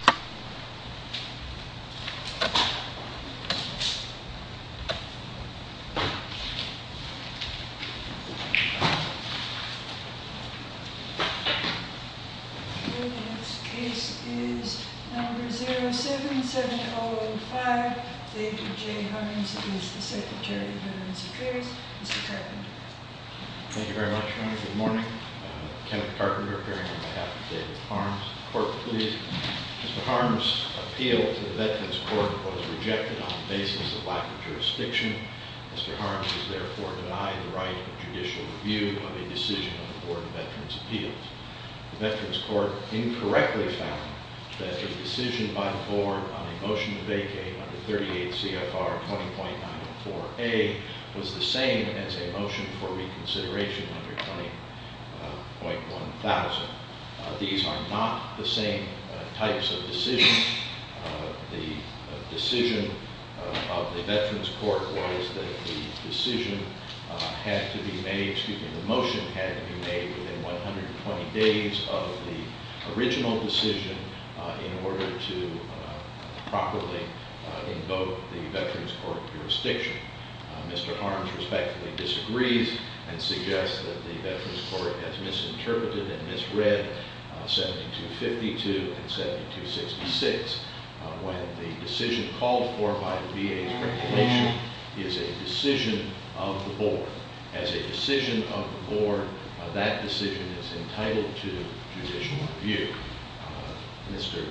07-7005 David J. Hines v. Secretary of Veterans' Affairs, Mr. Carpenter. Thank you very much, Your Honor. Good morning. Kevin Carpenter appearing on behalf of David Harms. Court, please. Mr. Harms' appeal to the Veterans' Court was rejected on the basis of lack of jurisdiction. Mr. Harms is therefore denied the right of judicial review of a decision on the Board of Veterans' Appeals. The Veterans' Court incorrectly found that a decision by the Board on a motion to vacate under 38 CFR 20.904A was the same as a motion for reconsideration under 20.1000. These are not the same types of decisions. The decision of the Veterans' Court was that the decision had to be made, excuse me, the motion had to be made within 120 days of the original decision in order to properly invoke the Veterans' Court jurisdiction. Mr. Harms respectfully disagrees and suggests that the Veterans' Court has misinterpreted and misread 7252 and 7266 when the decision called for by the VA's regulation is a decision of the board. As a decision of the board, that decision is entitled to judicial review. Mr.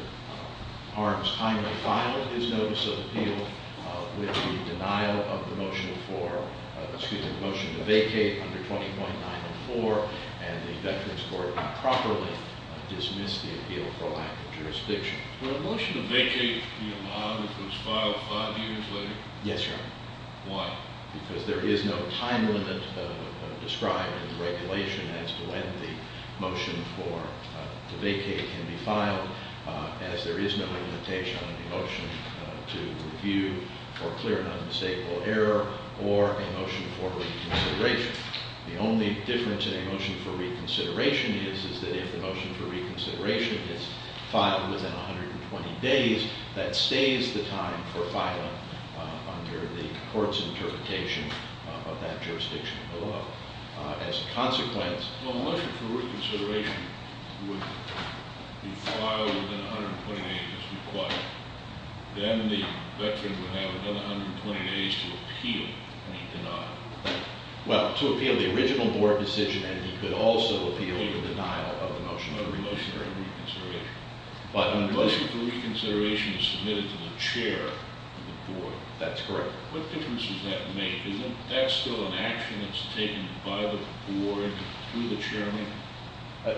Harms finally filed his notice of appeal with the denial of the motion for, excuse me, the motion to vacate under 20.904, and the Veterans' Court improperly dismissed the appeal for lack of jurisdiction. The motion to vacate the amount was filed five years later? Yes, Your Honor. Why? Because there is no time limit described in the regulation as to when the motion for the vacate can be filed, as there is no limitation on the motion to review for clear and unmistakable error or a motion for reconsideration. The only difference in a motion for reconsideration is that if the motion for reconsideration is filed within 120 days, that stays the time for the court's interpretation of that jurisdiction of the law. As a consequence- Well, a motion for reconsideration would be filed within 120 days as required. Then the veteran would have another 120 days to appeal any denial. Well, to appeal the original board decision, and he could also appeal the denial of the motion. No, a motion for reconsideration. But- A motion for reconsideration is submitted to the chair of the board. That's correct. What difference does that make? Isn't that still an action that's taken by the board to the chairman?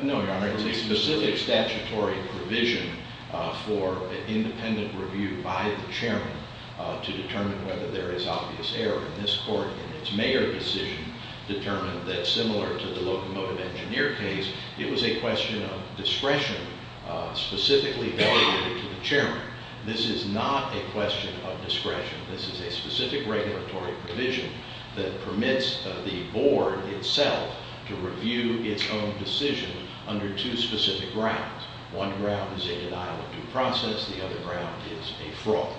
No, Your Honor. It's a specific statutory provision for an independent review by the chairman to determine whether there is obvious error. And this court, in its mayor decision, determined that, similar to the locomotive discretion, this is not a question of discretion. This is a specific regulatory provision that permits the board itself to review its own decision under two specific grounds. One ground is a denial of due process. The other ground is a fraud.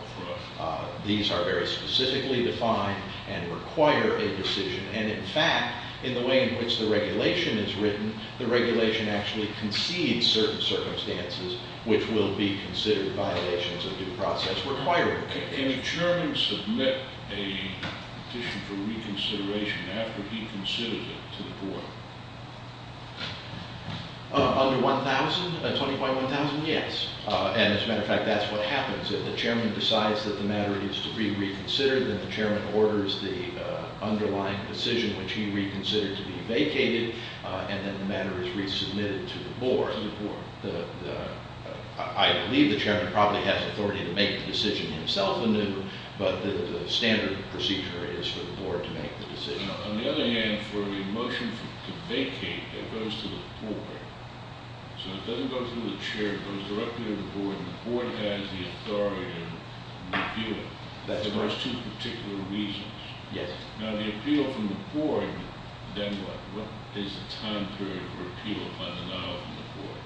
Fraud. These are very specifically defined and require a decision. And, in fact, in the way in which the regulation is written, the regulation actually concedes certain circumstances which will be considered violations of due process requirement. Can the chairman submit a petition for reconsideration after he considers it to the board? Under 1,000? 20.1,000? Yes. And, as a matter of fact, that's what happens. If the chairman decides that the matter needs to be reconsidered, then the chairman orders the underlying decision which he reconsidered to be vacated, and then the matter is resubmitted to the board. To the board. I believe the chairman probably has authority to make the decision himself, but the standard procedure is for the board to make the decision. Now, on the other hand, for a motion to vacate that goes to the board, so it doesn't go to the chair, it goes directly to the board, and the board has the authority to appeal it. That's right. For those two particular reasons. Yes. Now, the appeal from the board, then what? What is the time period for appeal on the now from the board?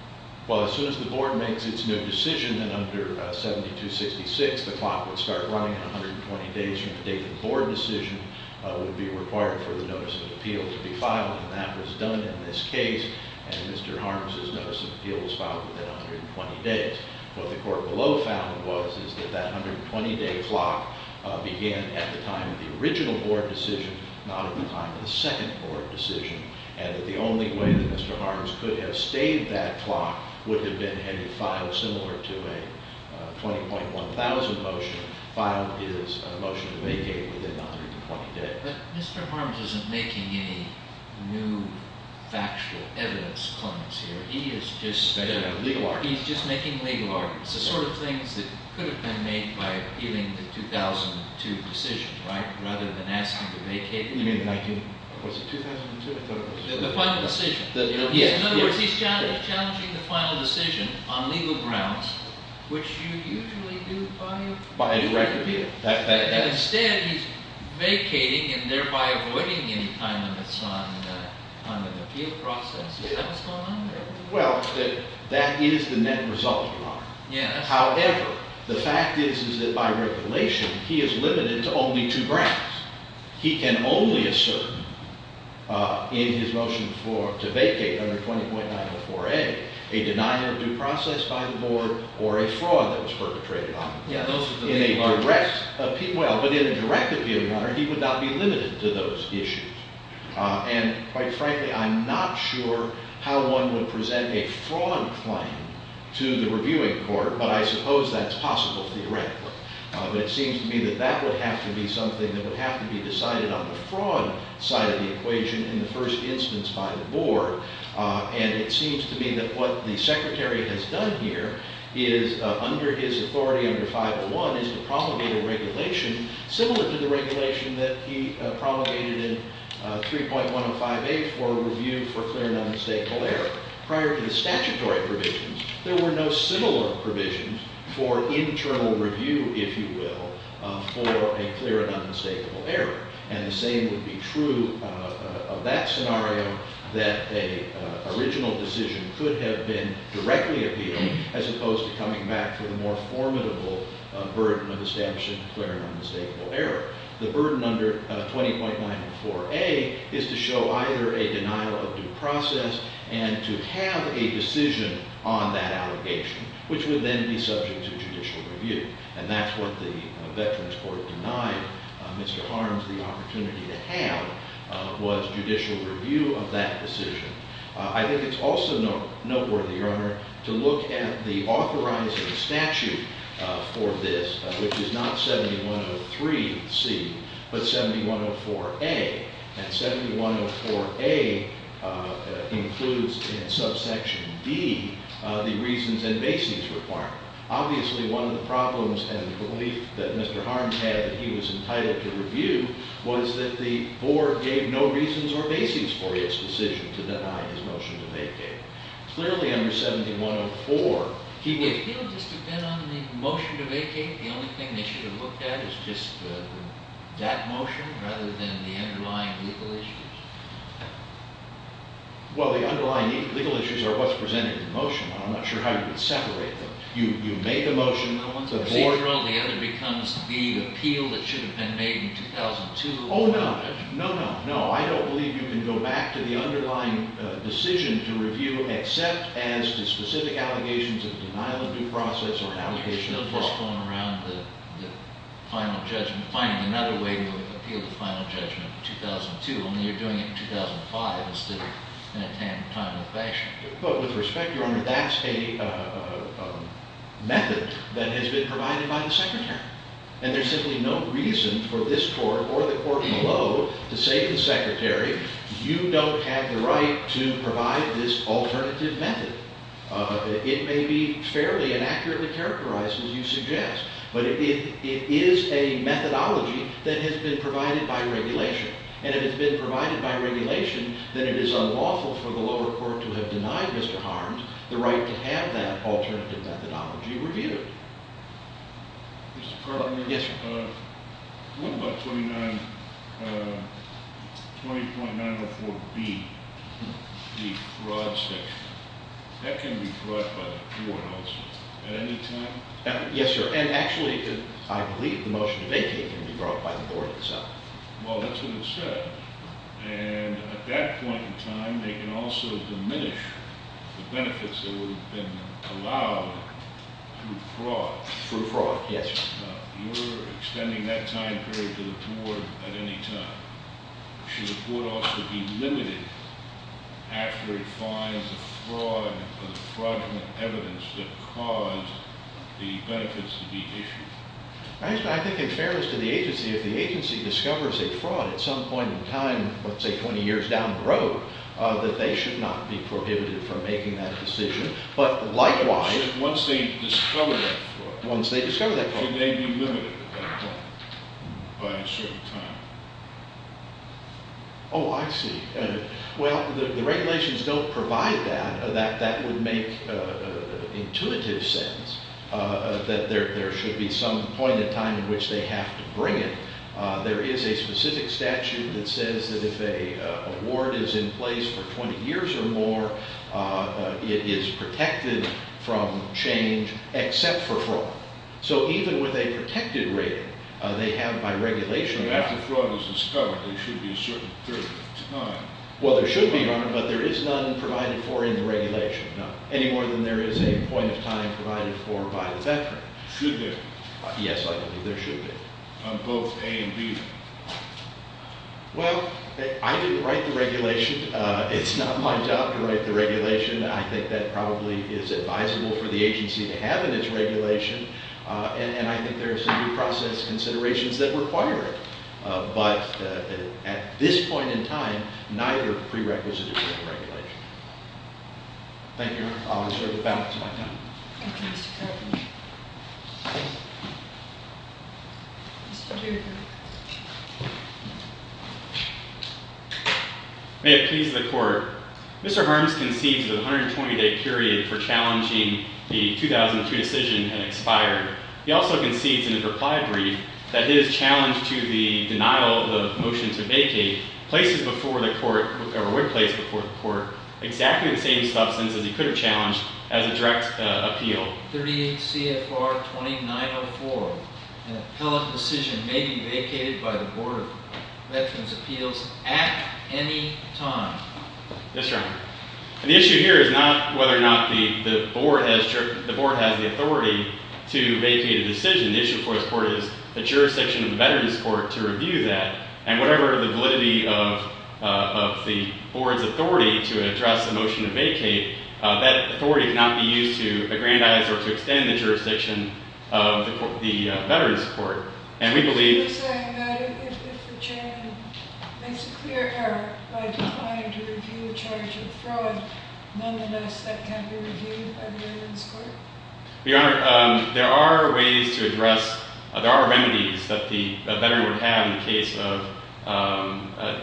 Well, as soon as the board makes its new decision, then under 7266, the clock would start running at 120 days from the date the board decision would be required for the notice of appeal to be filed, and that was done in this case, and Mr. Harms' notice of appeal was filed within 120 days. What the court below found was is that that 120-day clock began at the time of the original board decision, not at the time of the second board decision, and that the only way that Mr. Harms could have stayed that clock would have been had he filed similar to a 20.1000 motion, filed his motion to vacate within 120 days. But Mr. Harms isn't making any new factual evidence claims here. He is just making legal arguments, the sort of things that could have been made by appealing the 2002 decision, right, rather than asking to vacate. You mean the 19, was it 2002? The final decision. Yes. In other words, he's challenging the final decision on legal grounds, which you usually do by a direct appeal. Instead, he's vacating and thereby avoiding any time limits on the appeal process. Is that what's going on there? Well, that is the net result, Your Honor. Yes. However, the fact is, is that by regulation, he is limited to only two grounds. He can only assert in his motion to vacate under 20.904A a denial of due process by the board or a fraud that was perpetrated on him. Yeah, those are the main arguments. In a direct appeal, well, but in a direct appeal, Your Honor, he would not be limited to those issues. And quite frankly, I'm not sure how one would present a fraud claim to the board. I suppose that's possible theoretically. But it seems to me that that would have to be something that would have to be decided on the fraud side of the equation in the first instance by the board. And it seems to me that what the Secretary has done here is under his authority under 501 is to promulgate a regulation similar to the regulation that he promulgated in 3.105A for review for clear and unstateful error. Prior to the statutory provisions, there were no similar provisions for internal review, if you will, for a clear and unmistakable error. And the same would be true of that scenario, that an original decision could have been directly appealed as opposed to coming back for the more formidable burden of establishing clear and unmistakable error. The burden under 20.904A is to show either a denial of due process and to have a decision on that allegation, which would then be subject to judicial review. And that's what the Veterans Court denied Mr. Harms the opportunity to have was judicial review of that decision. I think it's also noteworthy, Your Honor, to look at the authorizing statute for this, which is not 7103C, but 7104A. And 7104A includes in subsection D the reasons and basis requirement. Obviously, one of the problems and the belief that Mr. Harms had that he was entitled to review was that the board gave no reasons or basis for his decision to deny his motion to vacate. Clearly, under 7104, he would- If he would just have been on the motion to vacate, the only thing they should have looked at is just that motion rather than the underlying legal issues. Well, the underlying legal issues are what's presented in the motion. I'm not sure how you would separate them. You make the motion, the board- See, for all the other becomes the appeal that should have been made in 2002. Oh, no. No, no, no. I don't believe you can go back to the underlying decision to review except as to specific allegations of denial of due process or an allegation of fraud. That's all going around the final judgment finding another way to appeal the final judgment in 2002. Only you're doing it in 2005 instead of in a timely fashion. But with respect, Your Honor, that's a method that has been provided by the Secretary. And there's simply no reason for this court or the court below to say to the Secretary, you don't have the right to provide this alternative method. It may be fairly and accurately characterized as you suggest, but it is a methodology that has been provided by regulation. And if it's been provided by regulation, then it is unlawful for the lower court to have denied Mr. Harms the right to have that alternative methodology reviewed. Mr. Carlin? Yes, sir. What about 20.904B, the fraud section? That can be brought by the court also at any time? Yes, sir. And actually, I believe the motion to vacate can be brought by the court itself. Well, that's what it said. And at that point in time, they can also diminish the benefits that would have been allowed through fraud. Through fraud, yes, sir. You're extending that time period to the court at any time. Should the court also be limited after it finds a fraud or the fraudulent evidence that caused the benefits to be issued? I think in fairness to the agency, if the agency discovers a fraud at some point in time, let's say 20 years down the road, that they should not be prohibited from making that decision. But likewise – Once they discover that fraud. It may be limited at that point by a certain time. Oh, I see. Well, the regulations don't provide that. That would make intuitive sense that there should be some point in time in which they have to bring it. There is a specific statute that says that if a warrant is in place for 20 So even with a protected rating, they have by regulation – After fraud is discovered, there should be a certain period of time. Well, there should be, but there is none provided for in the regulation, any more than there is a point of time provided for by the veteran. Should there? Yes, I believe there should be. On both A and B? Well, I didn't write the regulation. It's not my job to write the regulation. I think that probably is advisable for the agency to have in its regulation, and I think there are some due process considerations that require it. But at this point in time, neither prerequisite is in the regulation. Thank you. I'll reserve the balance of my time. Thank you, Mr. Kirkland. May it please the Court. Mr. Harms concedes that the 120-day period for challenging the 2002 decision had expired. He also concedes in his reply brief that his challenge to the denial of the motion to vacate would place before the Court exactly the same substance as he could have challenged as a direct appeal. 38 CFR 2904. An appellate decision may be vacated by the Board of Veterans' Appeals at any time. Yes, Your Honor. The issue here is not whether or not the Board has the authority to vacate a decision. The issue for this Court is the jurisdiction of the Veterans' Court to review that, and whatever the validity of the Board's authority to address the motion to vacate, that authority cannot be used to aggrandize or to extend the jurisdiction of the Veterans' Court. Are you saying that if the Chairman makes a clear error by declining to review the charge of fraud, nonetheless that can't be reviewed by the Veterans' Court? Your Honor, there are ways to address, there are remedies that the veteran would have in the case of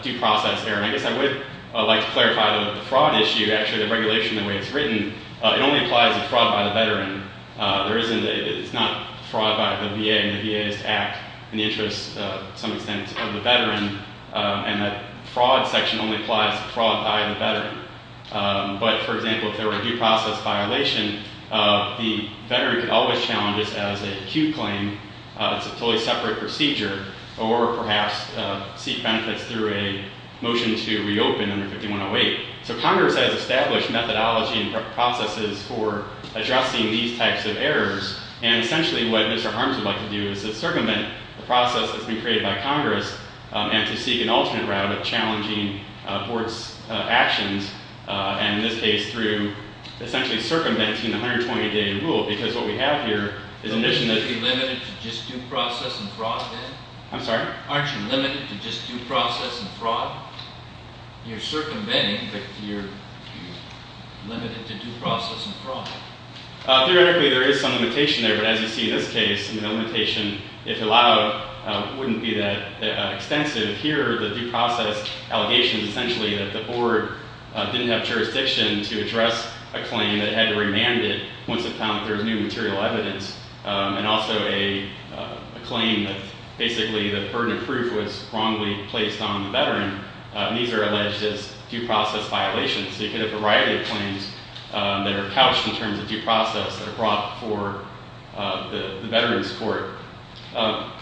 due process error. And I guess I would like to clarify that the fraud issue, actually the regulation the way it's written, it only applies to fraud by the veteran. It's not fraud by the VA, and the VA is to act in the interest, to some extent, of the veteran. And the fraud section only applies to fraud by the veteran. But, for example, if there were a due process violation, the veteran could always challenge this as an acute claim. It's a totally separate procedure. Or perhaps seek benefits through a motion to reopen under 5108. So Congress has established methodology and processes for addressing these types of errors. And essentially what Mr. Harms would like to do is to circumvent the process that's been created by Congress and to seek an alternate route of challenging courts' actions, and in this case through essentially circumventing the 120-day rule. Because what we have here is a mission that— Aren't you limited to just due process and fraud then? I'm sorry? Aren't you limited to just due process and fraud? You're circumventing, but you're limited to due process and fraud. Theoretically, there is some limitation there, but as you see in this case, the limitation, if allowed, wouldn't be that extensive. Here, the due process allegation is essentially that the board didn't have jurisdiction to address a claim that had to be remanded once it found that there was new material evidence, and also a claim that basically the burden of proof was wrongly placed on the veteran, and these are alleged as due process violations. So you get a variety of claims that are couched in terms of due process that are brought for the veterans' court.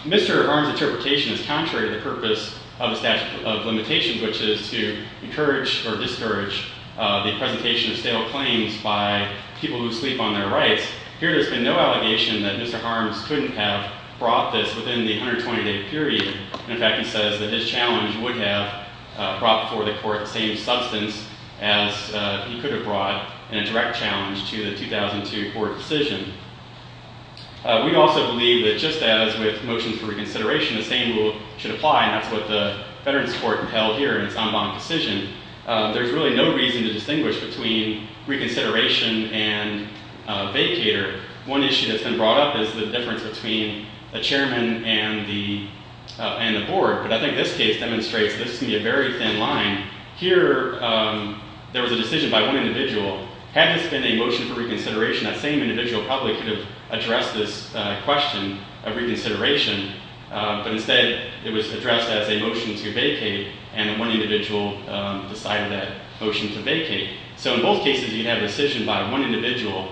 Mr. Harms' interpretation is contrary to the purpose of the statute of limitations, which is to encourage or discourage the presentation of stale claims by people who sleep on their rights. Here, there's been no allegation that Mr. Harms couldn't have brought this within the 120-day period. In fact, he says that his challenge would have brought before the court the same substance as he could have brought in a direct challenge to the 2002 court decision. We also believe that just as with motions for reconsideration, the same rule should apply, and that's what the veterans' court entailed here in its en banc decision. There's really no reason to distinguish between reconsideration and vacater. One issue that's been brought up is the difference between the chairman and the board, but I think this case demonstrates this can be a very thin line. Here, there was a decision by one individual. Had this been a motion for reconsideration, that same individual probably could have addressed this question of reconsideration, but instead it was addressed as a motion to vacate, and one individual decided that motion to vacate. So in both cases, you'd have a decision by one individual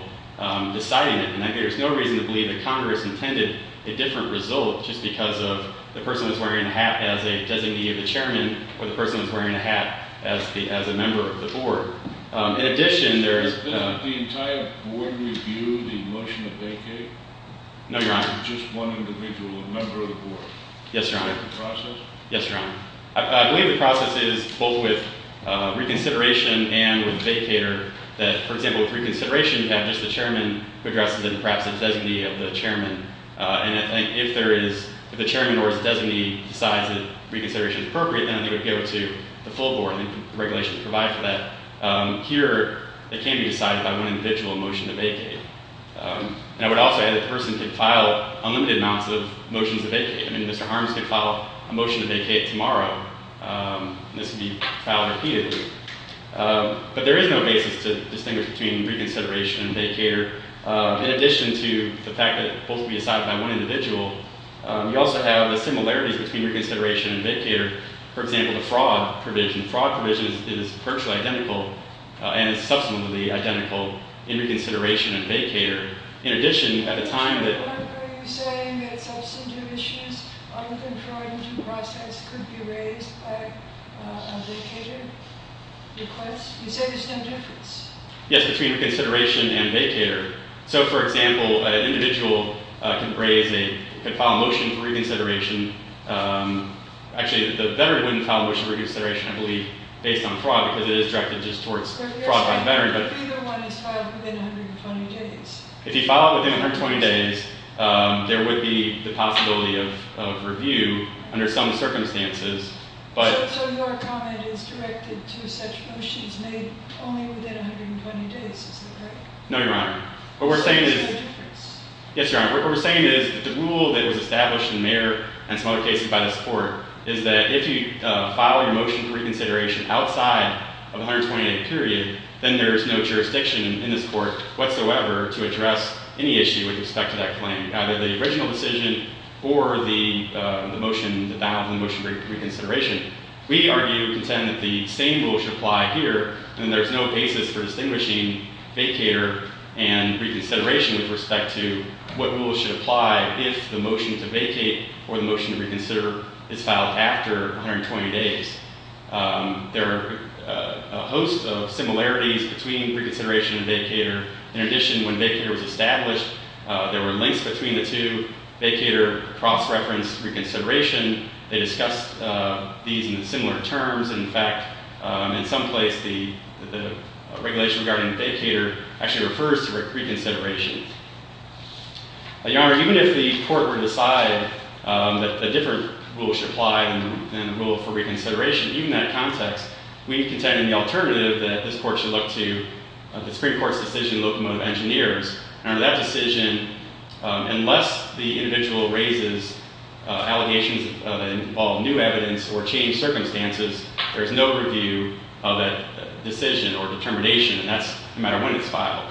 deciding it, and I think there's no reason to believe that Congress intended a different result just because of the person was wearing a hat as a designee of the chairman or the person was wearing a hat as a member of the board. In addition, there's... No, Your Honor. Yes, Your Honor. Yes, Your Honor. I believe the process is both with reconsideration and with vacater that, for example, with reconsideration, you have just the chairman who addresses it and perhaps the designee of the chairman, and I think if the chairman or his designee decides that reconsideration is appropriate, then I think it would go to the full board, and the regulations provide for that. Here, it can be decided by one individual motion to vacate. And I would also add that the person could file unlimited amounts of motions to vacate. I mean, Mr. Harms could file a motion to vacate tomorrow, and this would be filed repeatedly. But there is no basis to distinguish between reconsideration and vacater. In addition to the fact that it's supposed to be decided by one individual, you also have the similarities between reconsideration and vacater. For example, the fraud provision. Fraud provision is virtually identical and is subsequently identical in reconsideration and vacater. In addition, at the time that... Yes, between reconsideration and vacater. So, for example, an individual can file a motion for reconsideration. Actually, the veteran wouldn't file a motion for reconsideration, I believe, based on fraud, because it is directed just towards fraud by the veteran. If you file it within 120 days, there would be the possibility of review under some circumstances. No, Your Honor. What we're saying is... Yes, Your Honor. ...is that if you file your motion for reconsideration outside of the 120-day period, then there is no jurisdiction in this Court whatsoever to address any issue with respect to that claim, either the original decision or the motion, the denial of the motion for reconsideration. We argue and contend that the same rule should apply here, and there's no basis for distinguishing vacater and reconsideration with respect to what rule should apply if the motion to vacate or the motion to reconsider is filed after 120 days. There are a host of similarities between reconsideration and vacater. In addition, when vacater was established, there were links between the two. Vacater cross-referenced reconsideration. They discussed these in similar terms. In fact, in some place, the regulation regarding vacater actually refers to reconsideration. Your Honor, even if the Court were to decide that a different rule should apply than the rule for reconsideration, even in that context, we contend in the alternative that this Court should look to the Supreme Court's decision, Locomotive Engineers. Under that decision, unless the individual raises allegations that involve new evidence or changed circumstances, there's no review of that decision or determination, and that's no matter when it's filed.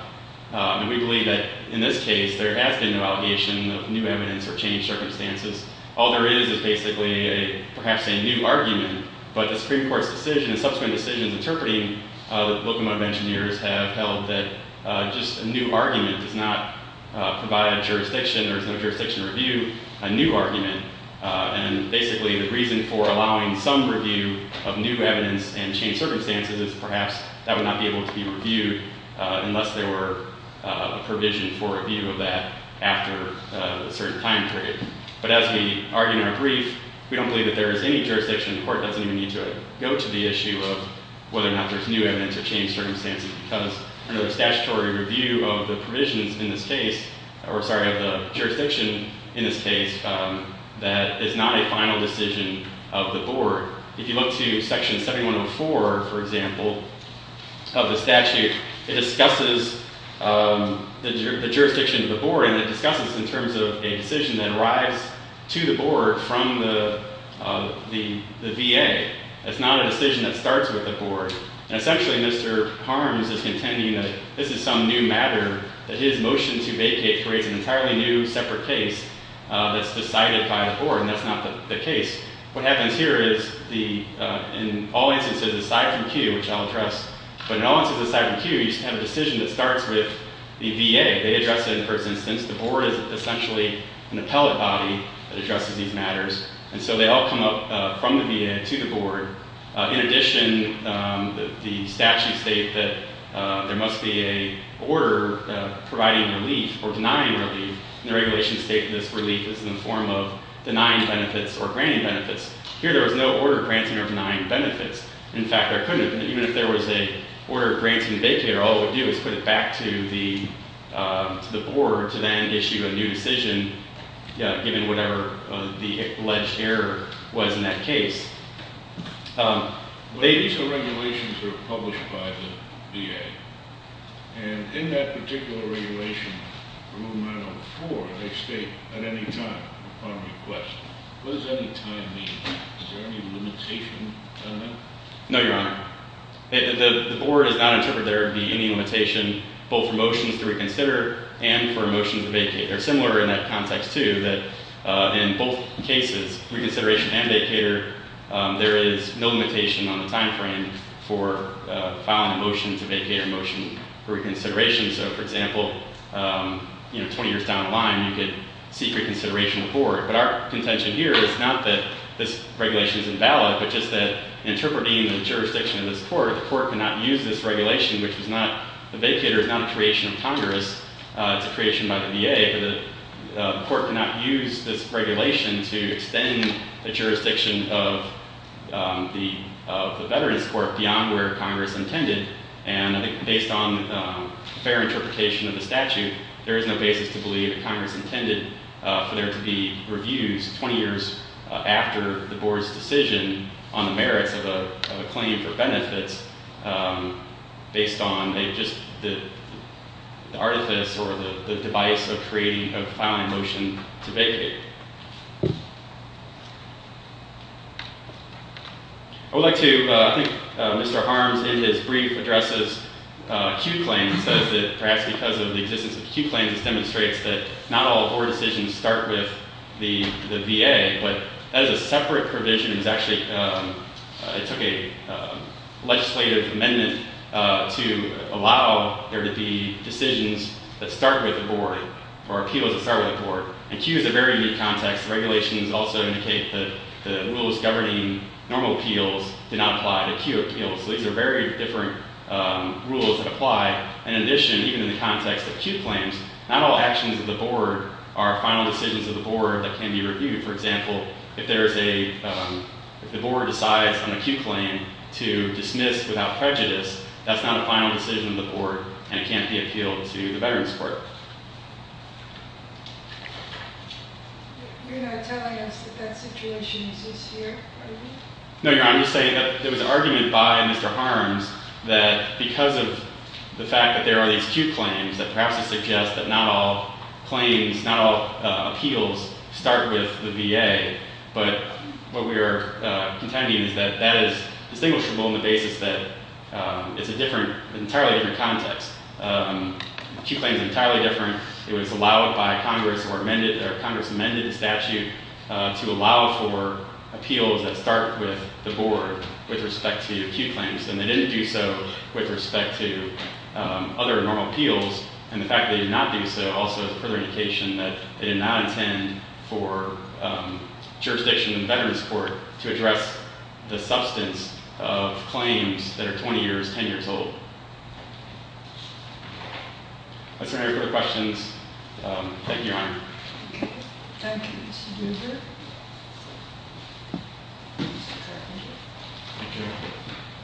And we believe that in this case, there has been no allegation of new evidence or changed circumstances. All there is is basically perhaps a new argument, but the Supreme Court's decision and subsequent decisions interpreting Locomotive Engineers have held that just a new argument does not provide a jurisdiction. There's no jurisdiction to review a new argument. And basically, the reason for allowing some review of new evidence and changed circumstances is perhaps that would not be able to be reviewed unless there were a provision for review of that after a certain time period. But as we argue in our brief, we don't believe that there is any jurisdiction. The Court doesn't even need to go to the issue of whether or not there's new evidence or changed circumstances because under the statutory review of the jurisdiction in this case, that is not a final decision of the Board. If you look to Section 7104, for example, of the statute, it discusses the jurisdiction of the Board, and it discusses in terms of a decision that arrives to the Board from the VA. It's not a decision that starts with the Board. Essentially, Mr. Harms is contending that this is some new matter, that his motion to vacate creates an entirely new separate case that's decided by the Board, and that's not the case. What happens here is in all instances aside from Q, which I'll address, but in all instances aside from Q, you have a decision that starts with the VA. They address it in the first instance. The Board is essentially an appellate body that addresses these matters, and so they all come up from the VA to the Board. In addition, the statutes state that there must be an order providing relief or denying relief, and the regulations state this relief is in the form of denying benefits or granting benefits. Here, there was no order granting or denying benefits. In fact, there couldn't have been. Even if there was an order granting the vacater, all it would do is put it back to the Board to then issue a new decision given whatever the alleged error was in that case. These are regulations that are published by the VA, and in that particular regulation for Movement Item 4, they state at any time upon request. What does any time mean? Is there any limitation on that? No, Your Honor. The Board has not interpreted there to be any limitation both for motions to reconsider and for motions to vacate. They're similar in that context, too, that in both cases, reconsideration and vacater, there is no limitation on the time frame for filing a motion to vacate or motion for reconsideration. So, for example, 20 years down the line, you could seek reconsideration with the Board. But our contention here is not that this regulation is invalid, but just that interpreting the jurisdiction of this court, the court cannot use this regulation, which the vacater is not a creation of Congress. It's a creation by the VA, but the court cannot use this regulation to extend the jurisdiction of the Veterans Court beyond where Congress intended. And I think based on fair interpretation of the statute, there is no basis to believe that Congress intended for there to be reviews 20 years after the Board's decision on the merits of a claim for benefits based on just the artifice or the device of filing a motion to vacate. I would like to, I think Mr. Harms in his brief addresses acute claims, says that perhaps because of the existence of acute claims, this demonstrates that not all Board decisions start with the VA, but as a separate provision, it took a legislative amendment to allow there to be decisions that start with the Board or appeals that start with the Board. And acute is a very unique context. The regulations also indicate that the rules governing normal appeals do not apply to acute appeals. So these are very different rules that apply. In addition, even in the context of acute claims, not all actions of the Board are final decisions of the Board that can be reviewed. For example, if the Board decides on an acute claim to dismiss without prejudice, that's not a final decision of the Board and it can't be appealed to the Veterans Court. You're not telling us that that situation exists here? No, Your Honor. I'm just saying that there was an argument by Mr. Harms that because of the fact that there are these acute claims that perhaps it suggests that not all claims, not all appeals start with the VA, but what we are contending is that that is distinguishable on the basis that it's an entirely different context. Acute claims are entirely different. It was allowed by Congress or Congress amended the statute to allow for appeals that start with the Board with respect to the acute claims, and they didn't do so with respect to other normal appeals. And the fact that they did not do so also is a further indication that they did not intend for jurisdiction in the Veterans Court to address the substance of claims that are 20 years, 10 years old. Is there any further questions? Thank you, Your Honor. Thank you. Mr. Gruber. Your Honor,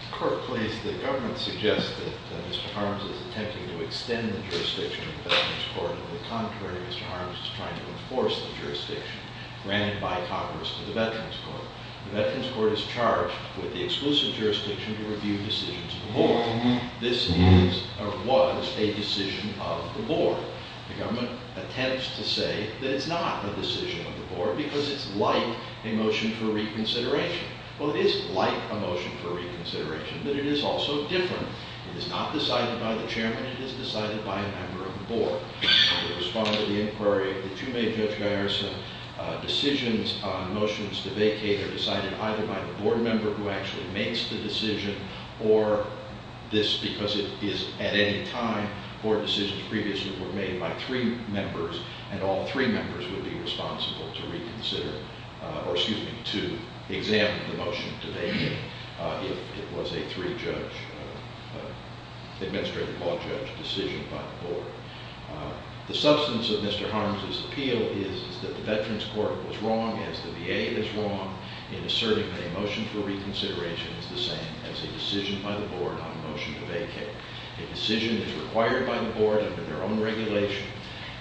the court please. The government suggests that Mr. Harms is attempting to extend the jurisdiction in the Veterans Court. On the contrary, Mr. Harms is trying to enforce the jurisdiction granted by Congress to the Veterans Court. The Veterans Court is charged with the exclusive jurisdiction to review decisions of the Board. This is or was a decision of the Board. The government attempts to say that it's not a decision of the Board because it's like a motion for reconsideration. Well, it is like a motion for reconsideration, but it is also different. It is not decided by the chairman. It is decided by a member of the Board. In response to the inquiry that you made, Judge Guyerson, decisions, motions to vacate are decided either by the Board member who actually makes the decision or this because it is at any time Board decisions previously were made by three members, and all three members would be responsible to reconsider or, excuse me, to examine the motion today if it was a three-judge, administrative-law-judge decision by the Board. The substance of Mr. Harms' appeal is that the Veterans Court was wrong, as the VA is wrong, in asserting that a motion for reconsideration is the same as a decision by the Board on a motion to vacate. A decision is required by the Board under their own regulation.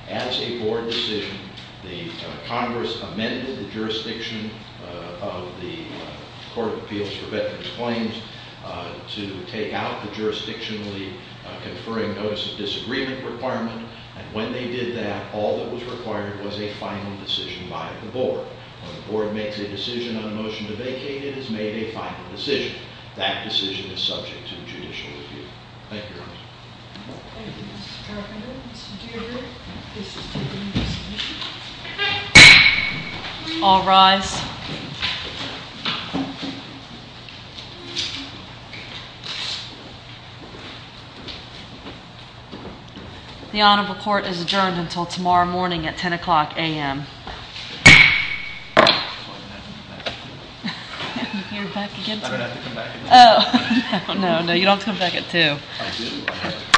As a Board decision, the Congress amended the jurisdiction of the Court of Appeals for Veterans Claims to take out the jurisdictionally conferring notice of disagreement requirement, and when they did that, all that was required was a final decision by the Board. When the Board makes a decision on a motion to vacate, it is made a final decision. That decision is subject to a judicial review. Thank you, Your Honor. Thank you, Mr. Carpenter. Mr. Dugard, this is to do with this motion. All rise. The Honorable Court is adjourned until tomorrow morning at 10 o'clock AM. I'm going to have to come back at 2. You're back again tomorrow? I'm going to have to come back at 2. Oh, no, no, you don't have to come back at 2. I do.